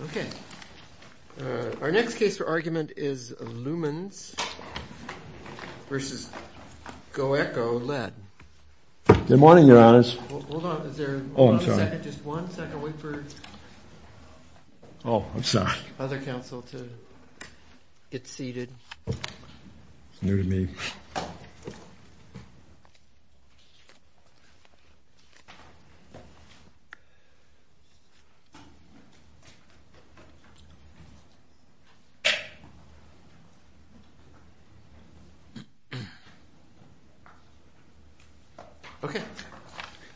Okay. Our next case for argument is Lumens v. GoEco LED. Good morning, Your Honors. Hold on. Is there one second? Just one second. Wait for other counsel to get seated. It's new to me.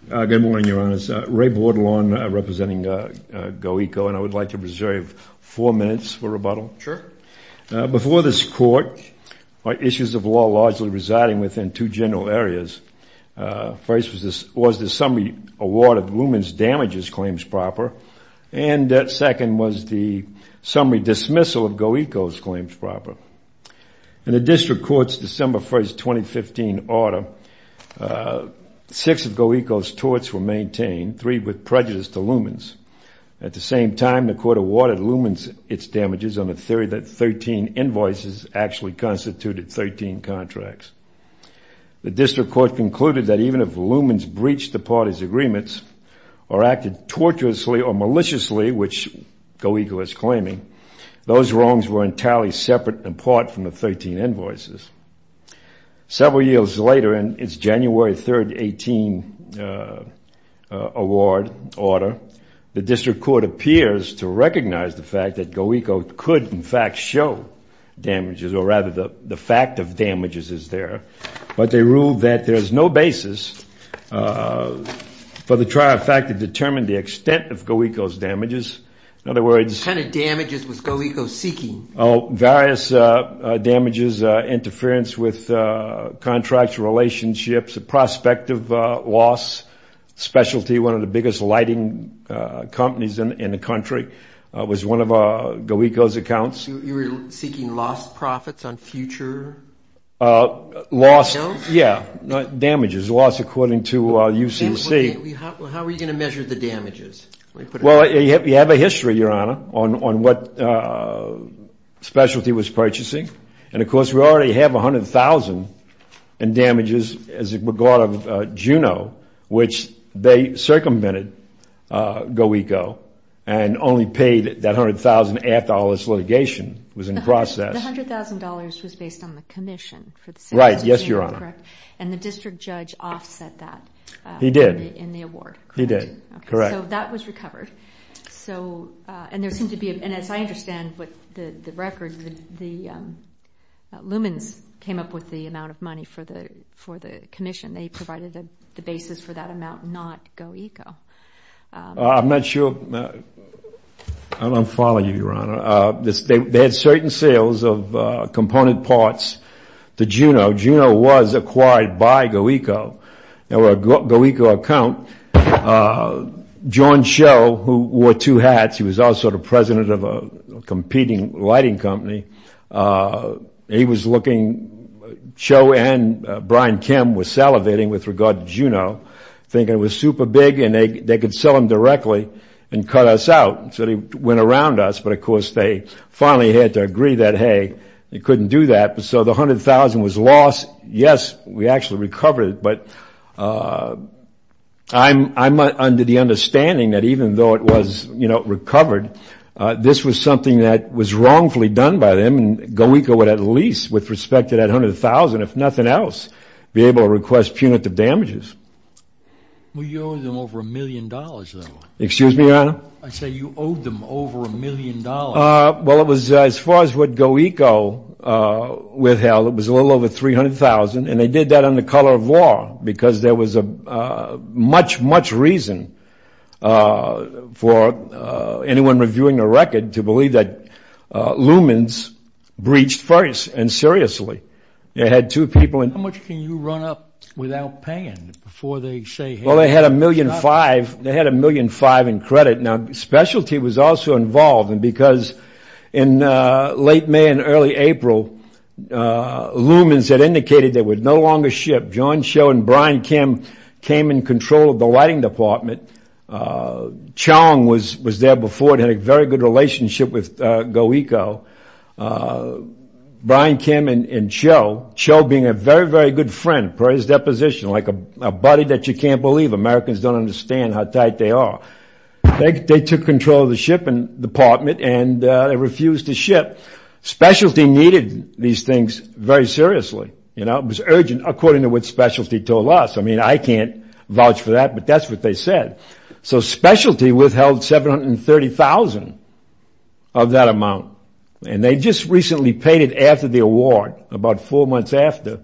Okay. Good morning, Your Honors. Ray Bordelon representing GoEco, and I would like to reserve four minutes for rebuttal. Sure. Before this court, our issues of law largely residing within two general areas. First was the summary award of Lumens damages claims proper, and second was the summary dismissal of GoEco's claims proper. In the district court's December 1, 2015, order, six of GoEco's torts were maintained, three with prejudice to Lumens. At the same time, the court awarded Lumens its damages on the theory that 13 invoices actually constituted 13 contracts. The district court concluded that even if Lumens breached the parties' agreements or acted tortuously or maliciously, which GoEco is claiming, those wrongs were entirely separate and apart from the 13 invoices. Several years later, in its January 3, 2018, award order, the district court appears to recognize the fact that GoEco could, in fact, show damages, or rather the fact of damages is there. But they ruled that there is no basis for the trial fact to determine the extent of GoEco's damages. What kind of damages was GoEco seeking? Oh, various damages, interference with contracts, relationships, prospective loss, specialty, one of the biggest lighting companies in the country was one of GoEco's accounts. You were seeking lost profits on future? Lost, yeah, damages, loss according to UCC. How were you going to measure the damages? Well, you have a history, Your Honor, on what specialty was purchasing, and of course we already have $100,000 in damages as a regard of Juno, which they circumvented GoEco and only paid that $100,000 after all this litigation was in process. The $100,000 was based on the commission for the city of Juno, correct? Right, yes, Your Honor. And the district judge offset that in the award, correct? He did. Correct. So that was recovered. And as I understand the record, the Lumens came up with the amount of money for the commission. They provided the basis for that amount, not GoEco. I'm not sure. I don't follow you, Your Honor. They had certain sales of component parts to Juno. Juno was acquired by GoEco. Now, a GoEco account, John Cho, who wore two hats, he was also the president of a competing lighting company, he was looking, Cho and Brian Kim were salivating with regard to Juno, thinking it was super big and they could sell him directly and cut us out. So they went around us, but of course they finally had to agree that, hey, they couldn't do that. So the $100,000 was lost. Yes, we actually recovered it, but I'm under the understanding that even though it was recovered, this was something that was wrongfully done by them, and GoEco would at least, with respect to that $100,000, if nothing else, be able to request punitive damages. Well, you owed them over a million dollars, though. Excuse me, Your Honor? I said you owed them over a million dollars. Well, it was, as far as what GoEco withheld, it was a little over $300,000, and they did that under color of law because there was much, much reason for anyone reviewing a record to believe that Lumens breached first, and seriously. They had two people in- How much can you run up without paying before they say, hey- Well, they had a million five, they had a million five in credit. Now, specialty was also involved, and because in late May and early April, Lumens had indicated they would no longer ship. John Cho and Brian Kim came in control of the lighting department. Chong was there before and had a very good relationship with GoEco. Brian Kim and Cho, Cho being a very, very good friend per his deposition, like a buddy that you can't believe. Americans don't understand how tight they are. They took control of the shipping department, and they refused to ship. Specialty needed these things very seriously. It was urgent, according to what specialty told us. I mean, I can't vouch for that, but that's what they said. So specialty withheld $730,000 of that amount, and they just recently paid it after the award, about four months after,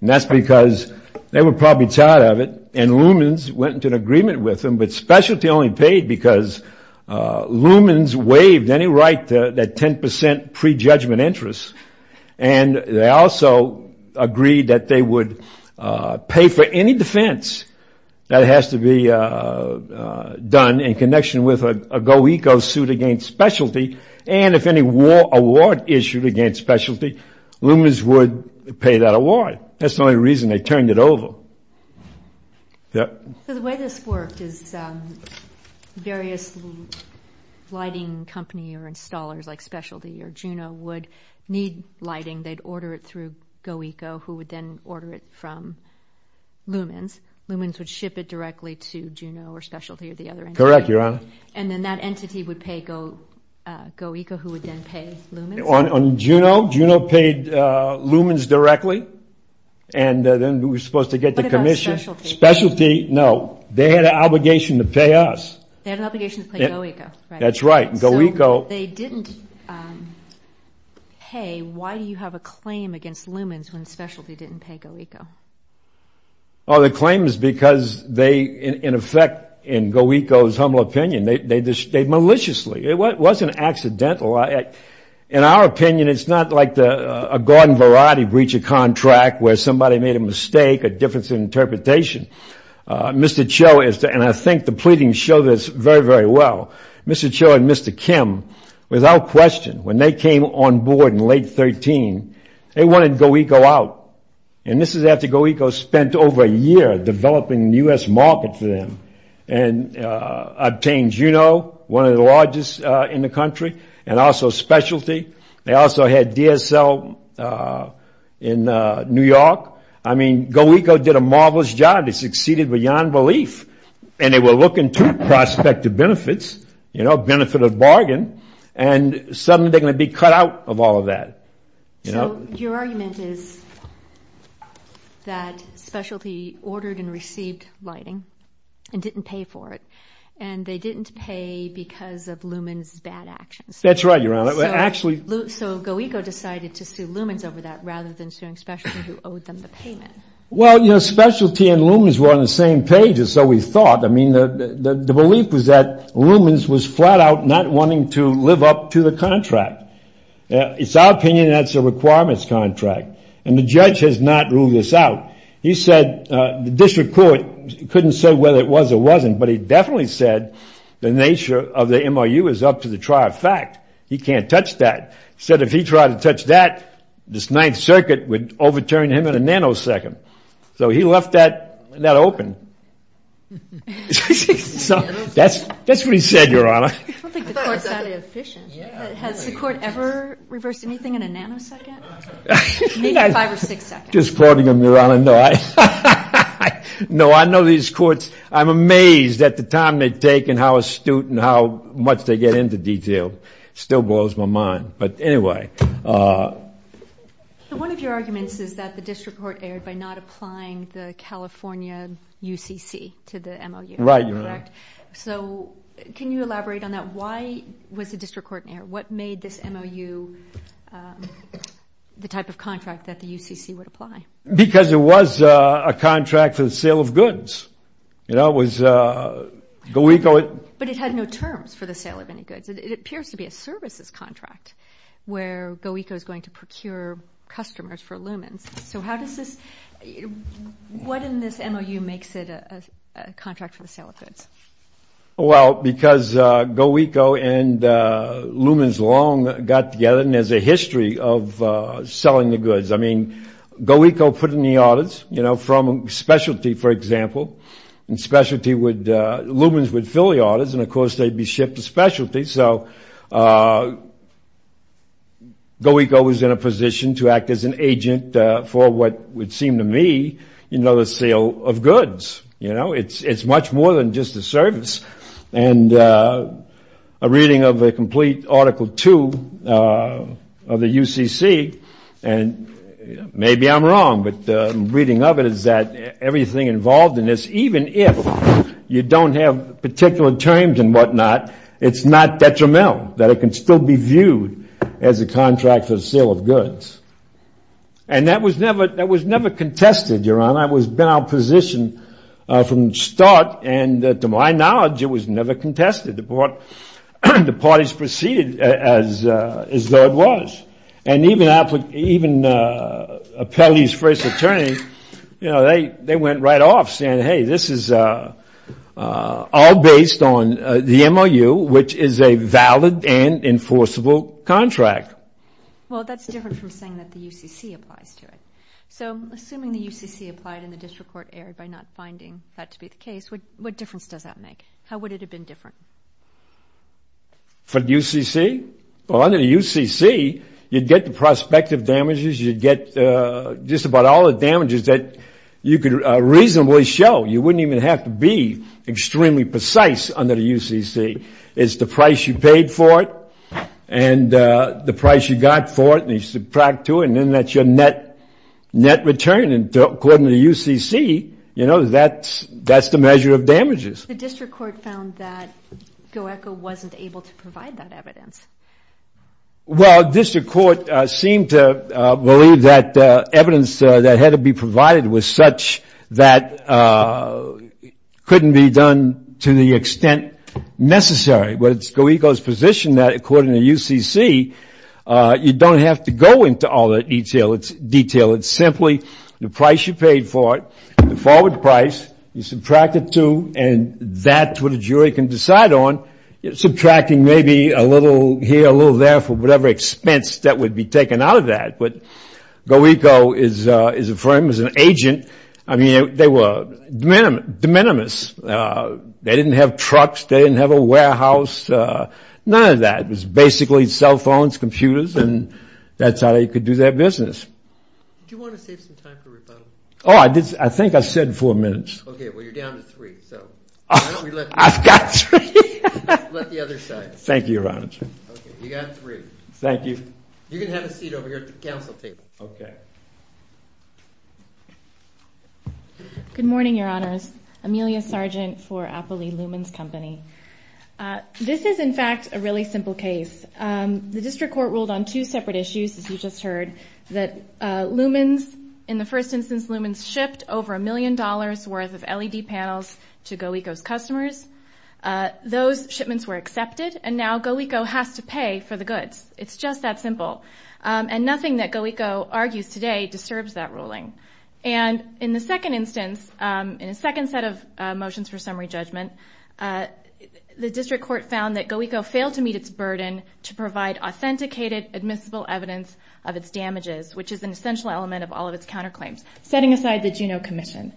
and that's because they were probably tired of it, and Lumens went into an agreement with them, but specialty only paid because Lumens waived any right to that 10% prejudgment interest, and they also agreed that they would pay for any defense that has to be done in connection with a GoEco suit against specialty, and if any award issued against specialty, Lumens would pay that award. That's the only reason they turned it over. Yep. So the way this worked is various lighting company or installers like specialty or Juno would need lighting. They'd order it through GoEco, who would then order it from Lumens. Lumens would ship it directly to Juno or specialty or the other entity. Correct, Your Honor. And then that entity would pay GoEco, who would then pay Lumens? On Juno, Juno paid Lumens directly, and then we were supposed to get the commission. What about specialty? Specialty, no. They had an obligation to pay us. They had an obligation to pay GoEco, right? That's right, GoEco. So they didn't pay. Why do you have a claim against Lumens when specialty didn't pay GoEco? Oh, the claim is because they, in effect, in GoEco's humble opinion, they maliciously, it wasn't accidental. In our opinion, it's not like a garden variety breacher contract where somebody made a mistake, a difference in interpretation. Mr. Cho, and I think the pleadings show this very, very well, Mr. Cho and Mr. Kim, without question, when they came on board in late 13, they wanted GoEco out. And this is after GoEco spent over a year developing the U.S. market for them and obtained Juno, one of the largest in the country, and also specialty. They also had DSL in New York. I mean, GoEco did a marvelous job. They succeeded beyond belief. And they were looking to prospective benefits, you know, benefit of bargain, and suddenly they're going to be cut out of all of that. So your argument is that specialty ordered and received lighting and didn't pay for it, and they didn't pay because of Lumens' bad actions. That's right, Your Honor. So GoEco decided to sue Lumens over that rather than suing specialty who owed them the payment. Well, you know, specialty and Lumens were on the same page, or so we thought. I mean, the belief was that Lumens was flat out not wanting to live up to the contract. It's our opinion that's a requirements contract, and the judge has not ruled this out. He said the district court couldn't say whether it was or wasn't, but he definitely said the nature of the MRU is up to the trier of fact. He can't touch that. He said if he tried to touch that, this Ninth Circuit would overturn him in a nanosecond. So he left that net open. So that's what he said, Your Honor. I don't think the court's that efficient. Has the court ever reversed anything in a nanosecond? Maybe five or six seconds. I'm just quoting him, Your Honor. No, I know these courts. I'm amazed at the time they take and how astute and how much they get into detail. It still blows my mind. But anyway. One of your arguments is that the district court erred by not applying the California UCC to the MRU. Right, Your Honor. So can you elaborate on that? Why was the district court an error? What made this MRU the type of contract that the UCC would apply? Because it was a contract for the sale of goods. You know, it was GoECO. But it had no terms for the sale of any goods. It appears to be a services contract where GoECO is going to procure customers for lumens. So how does this – what in this MRU makes it a contract for the sale of goods? Well, because GoECO and lumens long got together. And there's a history of selling the goods. I mean, GoECO put in the orders, you know, from specialty, for example. And specialty would – lumens would fill the orders. And, of course, they'd be shipped to specialty. So GoECO was in a position to act as an agent for what would seem to me, you know, the sale of goods. You know, it's much more than just a service. And a reading of a complete Article 2 of the UCC – and maybe I'm wrong, but the reading of it is that everything involved in this, even if you don't have particular terms and whatnot, it's not detrimental, that it can still be viewed as a contract for the sale of goods. And that was never contested, Your Honor. And that has been our position from the start. And to my knowledge, it was never contested. The parties proceeded as though it was. And even Appellee's first attorney, you know, they went right off saying, hey, this is all based on the MRU, which is a valid and enforceable contract. Well, that's different from saying that the UCC applies to it. So assuming the UCC applied and the district court erred by not finding that to be the case, what difference does that make? How would it have been different? For the UCC? Well, under the UCC, you'd get the prospective damages. You'd get just about all the damages that you could reasonably show. You wouldn't even have to be extremely precise under the UCC. It's the price you paid for it and the price you got for it. And you subtract to it, and then that's your net return. And according to the UCC, you know, that's the measure of damages. The district court found that GOECO wasn't able to provide that evidence. Well, district court seemed to believe that evidence that had to be provided was such that couldn't be done to the extent necessary. But it's GOECO's position that, according to UCC, you don't have to go into all the detail. It's simply the price you paid for it, the forward price, you subtract it to, and that's what a jury can decide on, subtracting maybe a little here, a little there for whatever expense that would be taken out of that. But GOECO is a firm, is an agent. I mean, they were de minimis. They didn't have trucks. They didn't have a warehouse. None of that. It was basically cell phones, computers, and that's how they could do their business. Do you want to save some time for rebuttal? Oh, I think I said four minutes. Okay, well, you're down to three, so why don't we let the other side. Thank you, Your Honor. Okay, you got three. Thank you. You can have a seat over here at the council table. Okay. Good morning, Your Honors. Amelia Sargent for Appley Lumens Company. This is, in fact, a really simple case. The district court ruled on two separate issues, as you just heard, that Lumens, in the first instance, Lumens shipped over a million dollars' worth of LED panels to GOECO's customers. Those shipments were accepted, and now GOECO has to pay for the goods. It's just that simple. And nothing that GOECO argues today disturbs that ruling. In the second instance, in a second set of motions for summary judgment, the district court found that GOECO failed to meet its burden to provide authenticated, admissible evidence of its damages, which is an essential element of all of its counterclaims, setting aside the Juneau Commission,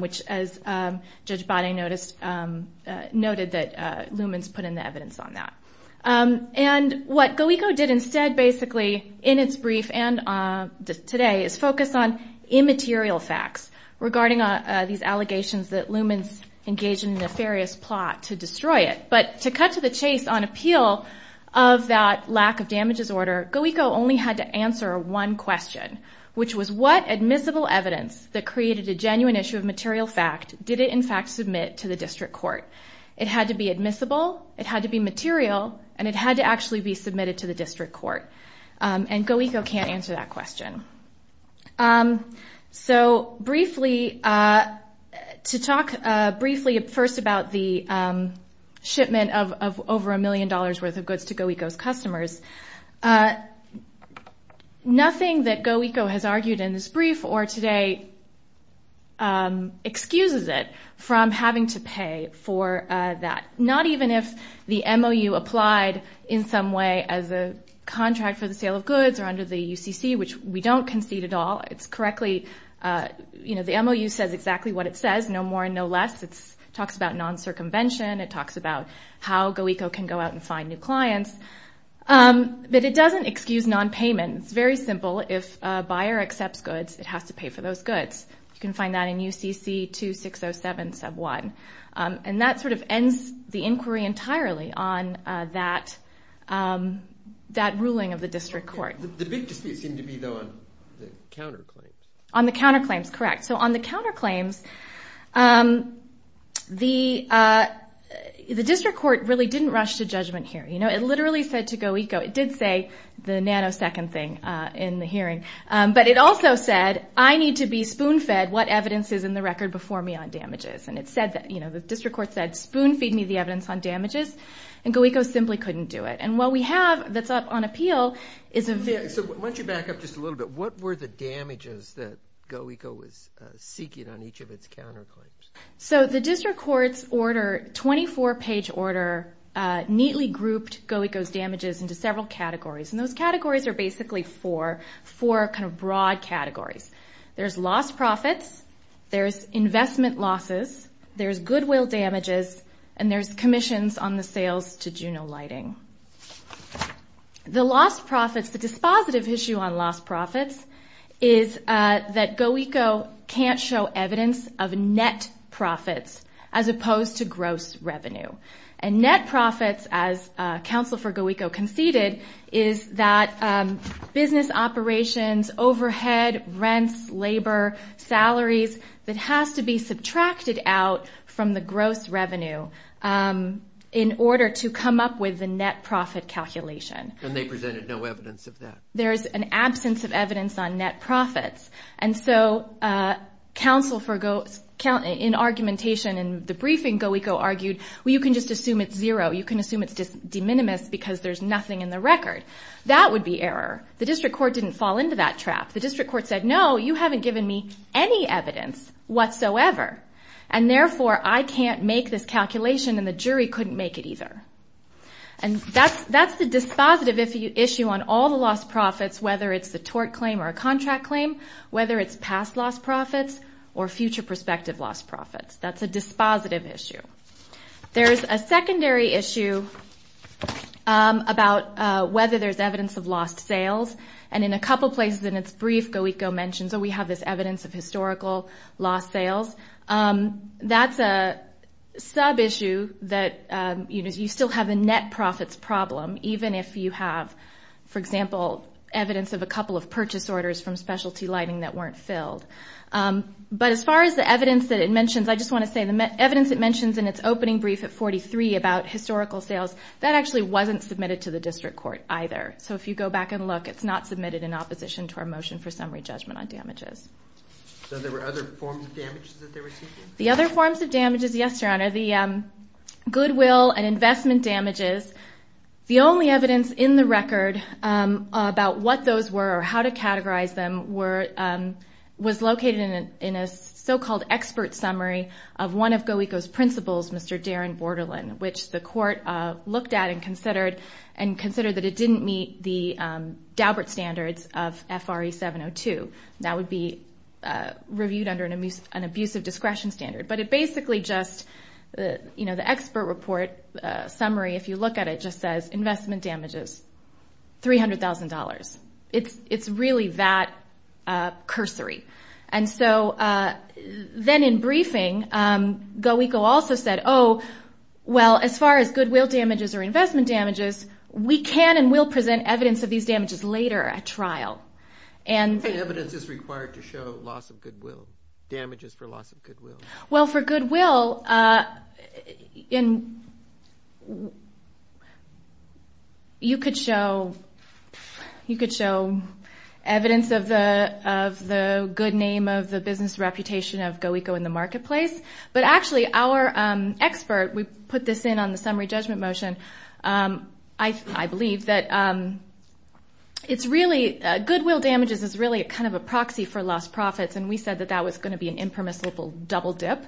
which, as Judge Bonney noted, that Lumens put in the evidence on that. And what GOECO did instead, basically, in its brief and today, is focus on immaterial facts regarding these allegations that Lumens engaged in a nefarious plot to destroy it. But to cut to the chase on appeal of that lack of damages order, GOECO only had to answer one question, which was what admissible evidence that created a genuine issue of material fact did it, in fact, submit to the district court? It had to be admissible, it had to be material, and it had to actually be submitted to the district court. And GOECO can't answer that question. So briefly, to talk briefly, first, about the shipment of over a million dollars worth of goods to GOECO's customers, nothing that GOECO has argued in this brief or today excuses it from having to pay for that, not even if the MOU applied in some way as a contract for the sale of goods or under the UCC, which we don't concede at all. It's correctly, you know, the MOU says exactly what it says, no more and no less. It talks about non-circumvention. It talks about how GOECO can go out and find new clients. But it doesn't excuse nonpayment. It's very simple. If a buyer accepts goods, it has to pay for those goods. You can find that in UCC 2607 sub 1. And that sort of ends the inquiry entirely on that ruling of the district court. The big dispute seemed to be, though, on the counterclaims. On the counterclaims, correct. So on the counterclaims, the district court really didn't rush to judgment here. You know, it literally said to GOECO, it did say the nanosecond thing in the hearing, but it also said, I need to be spoon-fed what evidence is in the record before me on damages. And it said that, you know, the district court said, spoon-feed me the evidence on damages. And GOECO simply couldn't do it. And what we have that's up on appeal is a very – So why don't you back up just a little bit. What were the damages that GOECO was seeking on each of its counterclaims? So the district court's order, 24-page order, neatly grouped GOECO's damages into several categories. And those categories are basically four, four kind of broad categories. There's lost profits. There's investment losses. There's goodwill damages. And there's commissions on the sales to Juneau Lighting. The lost profits, the dispositive issue on lost profits, is that GOECO can't show evidence of net profits as opposed to gross revenue. And net profits, as Counsel for GOECO conceded, is that business operations, overhead, rents, labor, salaries, that has to be subtracted out from the gross revenue in order to come up with the net profit calculation. And they presented no evidence of that. There's an absence of evidence on net profits. And so Counsel for GOECO, in argumentation in the briefing, GOECO argued, well, you can just assume it's zero. You can assume it's de minimis because there's nothing in the record. That would be error. The district court didn't fall into that trap. The district court said, no, you haven't given me any evidence whatsoever, and therefore I can't make this calculation and the jury couldn't make it either. And that's the dispositive issue on all the lost profits, whether it's the tort claim or a contract claim, whether it's past lost profits or future prospective lost profits. That's a dispositive issue. There's a secondary issue about whether there's evidence of lost sales. And in a couple places in its brief, GOECO mentions, oh, we have this evidence of historical lost sales. That's a sub-issue that you still have a net profits problem, even if you have, for example, evidence of a couple of purchase orders from specialty lighting that weren't filled. But as far as the evidence that it mentions, I just want to say the evidence it mentions in its opening brief at 43 about historical sales, that actually wasn't submitted to the district court either. So if you go back and look, it's not submitted in opposition to our motion for summary judgment on damages. So there were other forms of damages that they were seeking? The other forms of damages, yes, Your Honor, the goodwill and investment damages. The only evidence in the record about what those were or how to categorize them was located in a so-called expert summary of one of GOECO's principals, Mr. Darren Borderland, which the court looked at and considered, and considered that it didn't meet the Daubert standards of FRA 702. That would be reviewed under an abusive discretion standard. But it basically just, you know, the expert report summary, if you look at it, just says investment damages, $300,000. It's really that cursory. And so then in briefing, GOECO also said, oh, well, as far as goodwill damages or investment damages, we can and will present evidence of these damages later at trial. And evidence is required to show loss of goodwill, damages for loss of goodwill. Well, for goodwill, well, you could show evidence of the good name of the business reputation of GOECO in the marketplace, but actually our expert, we put this in on the summary judgment motion, I believe that it's really, goodwill damages is really kind of a proxy for lost profits, and we said that that was going to be an impermissible double dip,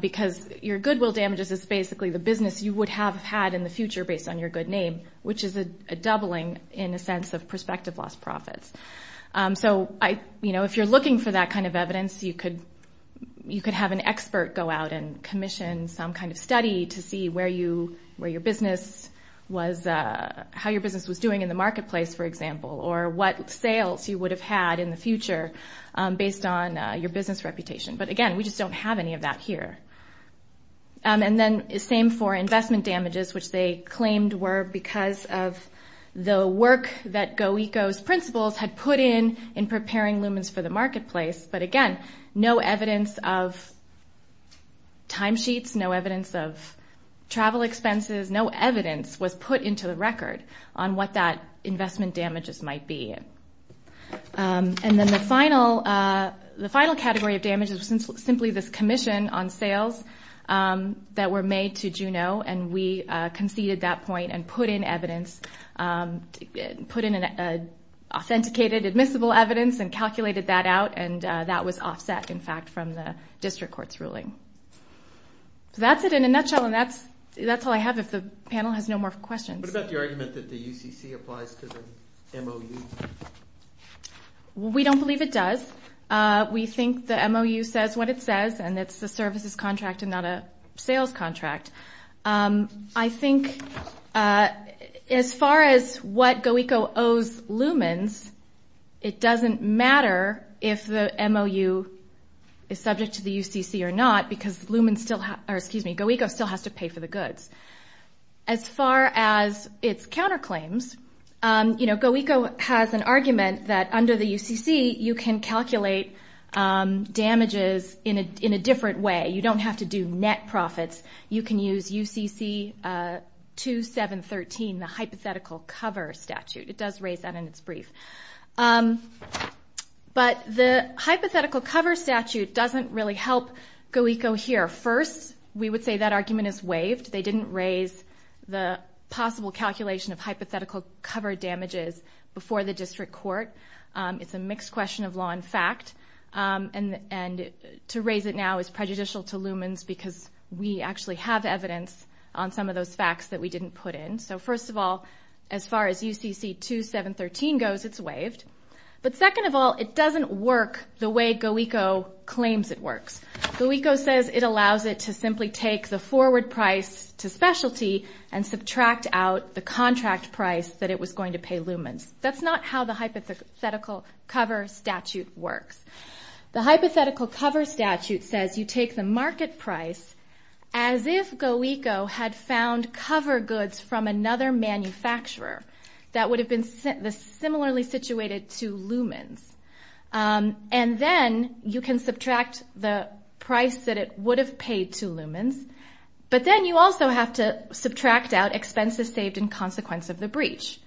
because your goodwill damages is basically the business you would have had in the future based on your good name, which is a doubling in a sense of prospective lost profits. So, you know, if you're looking for that kind of evidence, you could have an expert go out and commission some kind of study to see where your business was, how your business was doing in the marketplace, for example, or what sales you would have had in the future based on your business reputation. But again, we just don't have any of that here. And then the same for investment damages, which they claimed were because of the work that GOECO's principals had put in in preparing lumens for the marketplace. But again, no evidence of timesheets, no evidence of travel expenses, no evidence was put into the record on what that investment damages might be. And then the final category of damages was simply this commission on sales that were made to Juneau, and we conceded that point and put in evidence, put in an authenticated admissible evidence, and calculated that out, and that was offset, in fact, from the district court's ruling. So that's it in a nutshell, and that's all I have if the panel has no more questions. What about the argument that the UCC applies to the MOU? We don't believe it does. We think the MOU says what it says, and it's a services contract and not a sales contract. I think as far as what GOECO owes lumens, it doesn't matter if the MOU is subject to the UCC or not, because GOECO still has to pay for the goods. As far as its counterclaims, you know, GOECO has an argument that under the UCC, you can calculate damages in a different way. You don't have to do net profits. You can use UCC 2713, the hypothetical cover statute. It does raise that in its brief. But the hypothetical cover statute doesn't really help GOECO here. First, we would say that argument is waived. They didn't raise the possible calculation of hypothetical cover damages before the district court. It's a mixed question of law and fact, and to raise it now is prejudicial to lumens because we actually have evidence on some of those facts that we didn't put in. So first of all, as far as UCC 2713 goes, it's waived. But second of all, it doesn't work the way GOECO claims it works. GOECO says it allows it to simply take the forward price to specialty and subtract out the contract price that it was going to pay lumens. That's not how the hypothetical cover statute works. The hypothetical cover statute says you take the market price as if GOECO had found cover goods from another manufacturer that would have been similarly situated to lumens, and then you can subtract the price that it would have paid to lumens, but then you also have to subtract out expenses saved in consequence of the breach.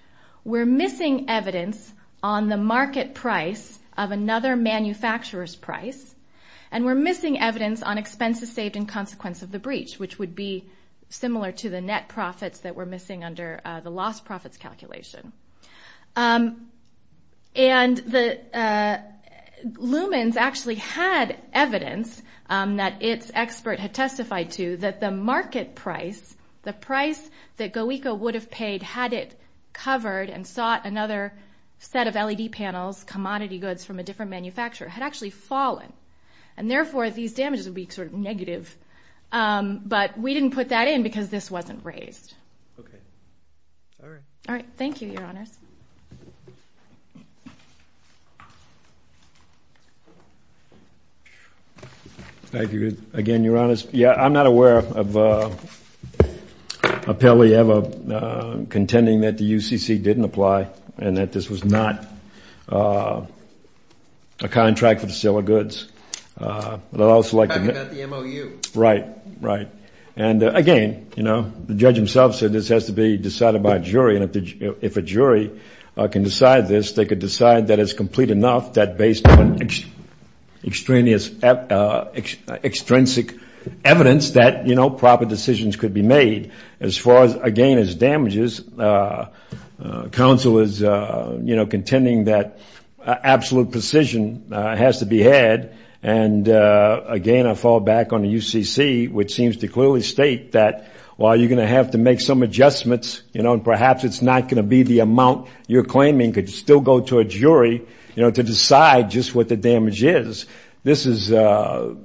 We're missing evidence on the market price of another manufacturer's price, and we're missing evidence on expenses saved in consequence of the breach, which would be similar to the net profits that we're missing under the lost profits calculation. And lumens actually had evidence that its expert had testified to that the market price, the price that GOECO would have paid had it covered and sought another set of LED panels, commodity goods from a different manufacturer, had actually fallen, and therefore these damages would be sort of negative. But we didn't put that in because this wasn't raised. All right, thank you, Your Honors. Thank you, again, Your Honors. Yeah, I'm not aware of appellee ever contending that the UCC didn't apply and that this was not a contract for the sale of goods. Talking about the MOU. Right, right. And again, you know, the judge himself said this has to be decided by a jury, and if a jury can decide this, they could decide that it's complete enough, that based on extrinsic evidence that, you know, proper decisions could be made. As far as, again, as damages, counsel is, you know, contending that absolute precision has to be had. And again, I fall back on the UCC, which seems to clearly state that, well, you're going to have to make some adjustments, you know, and perhaps it's not going to be the amount you're claiming could still go to a jury, you know, to decide just what the damage is. This is a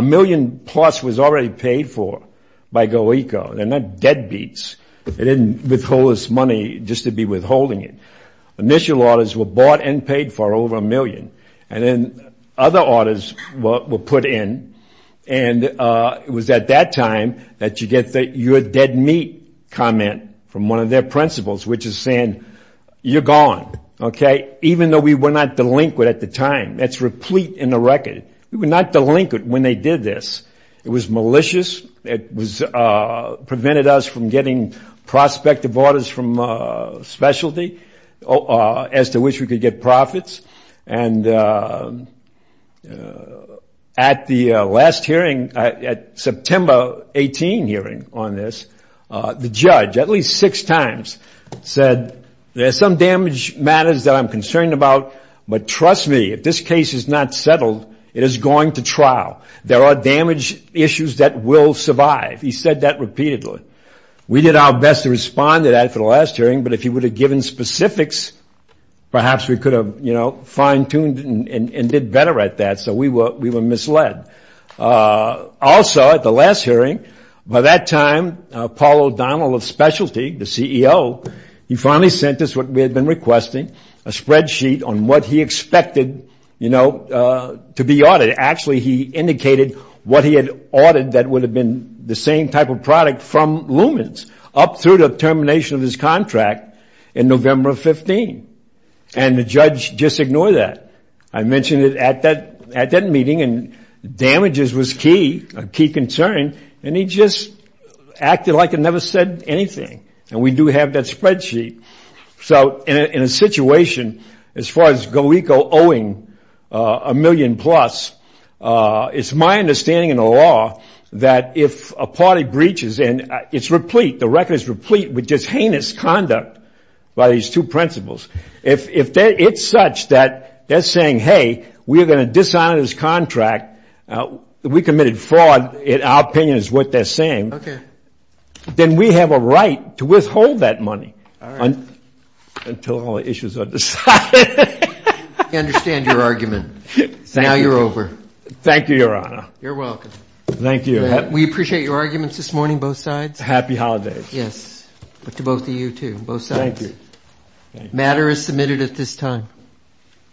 million plus was already paid for by GoECO. They're not deadbeats. They didn't withhold this money just to be withholding it. Initial orders were bought and paid for over a million. And then other orders were put in, and it was at that time that you get the you're dead meat comment from one of their principals, which is saying you're gone, okay, even though we were not delinquent at the time. That's replete in the record. We were not delinquent when they did this. It was malicious. It prevented us from getting prospective orders from specialty as to which we could get profits. And at the last hearing, at September 18 hearing on this, the judge at least six times said, there's some damage matters that I'm concerned about. But trust me, if this case is not settled, it is going to trial. There are damage issues that will survive. He said that repeatedly. We did our best to respond to that for the last hearing. But if he would have given specifics, perhaps we could have, you know, fine-tuned and did better at that. So we were misled. Also, at the last hearing, by that time, Paul O'Donnell of specialty, the CEO, he finally sent us what we had been requesting, a spreadsheet on what he expected, you know, to be audited. Actually, he indicated what he had ordered that would have been the same type of product from in November of 15. And the judge just ignored that. I mentioned it at that meeting. And damages was key, a key concern. And he just acted like he never said anything. And we do have that spreadsheet. So in a situation, as far as GoECO owing a million plus, it's my understanding in the law that if a party breaches and it's replete, the record is replete with just heinous conduct by these two principals, if it's such that they're saying, hey, we're going to dishonor this contract, we committed fraud, our opinion is what they're saying, then we have a right to withhold that money until all the issues are decided. I understand your argument. Now you're over. Thank you, Your Honor. You're welcome. Thank you. We appreciate your arguments this morning, both sides. Happy holidays. Yes. To both of you, too, both sides. Thank you. The matter is submitted at this time.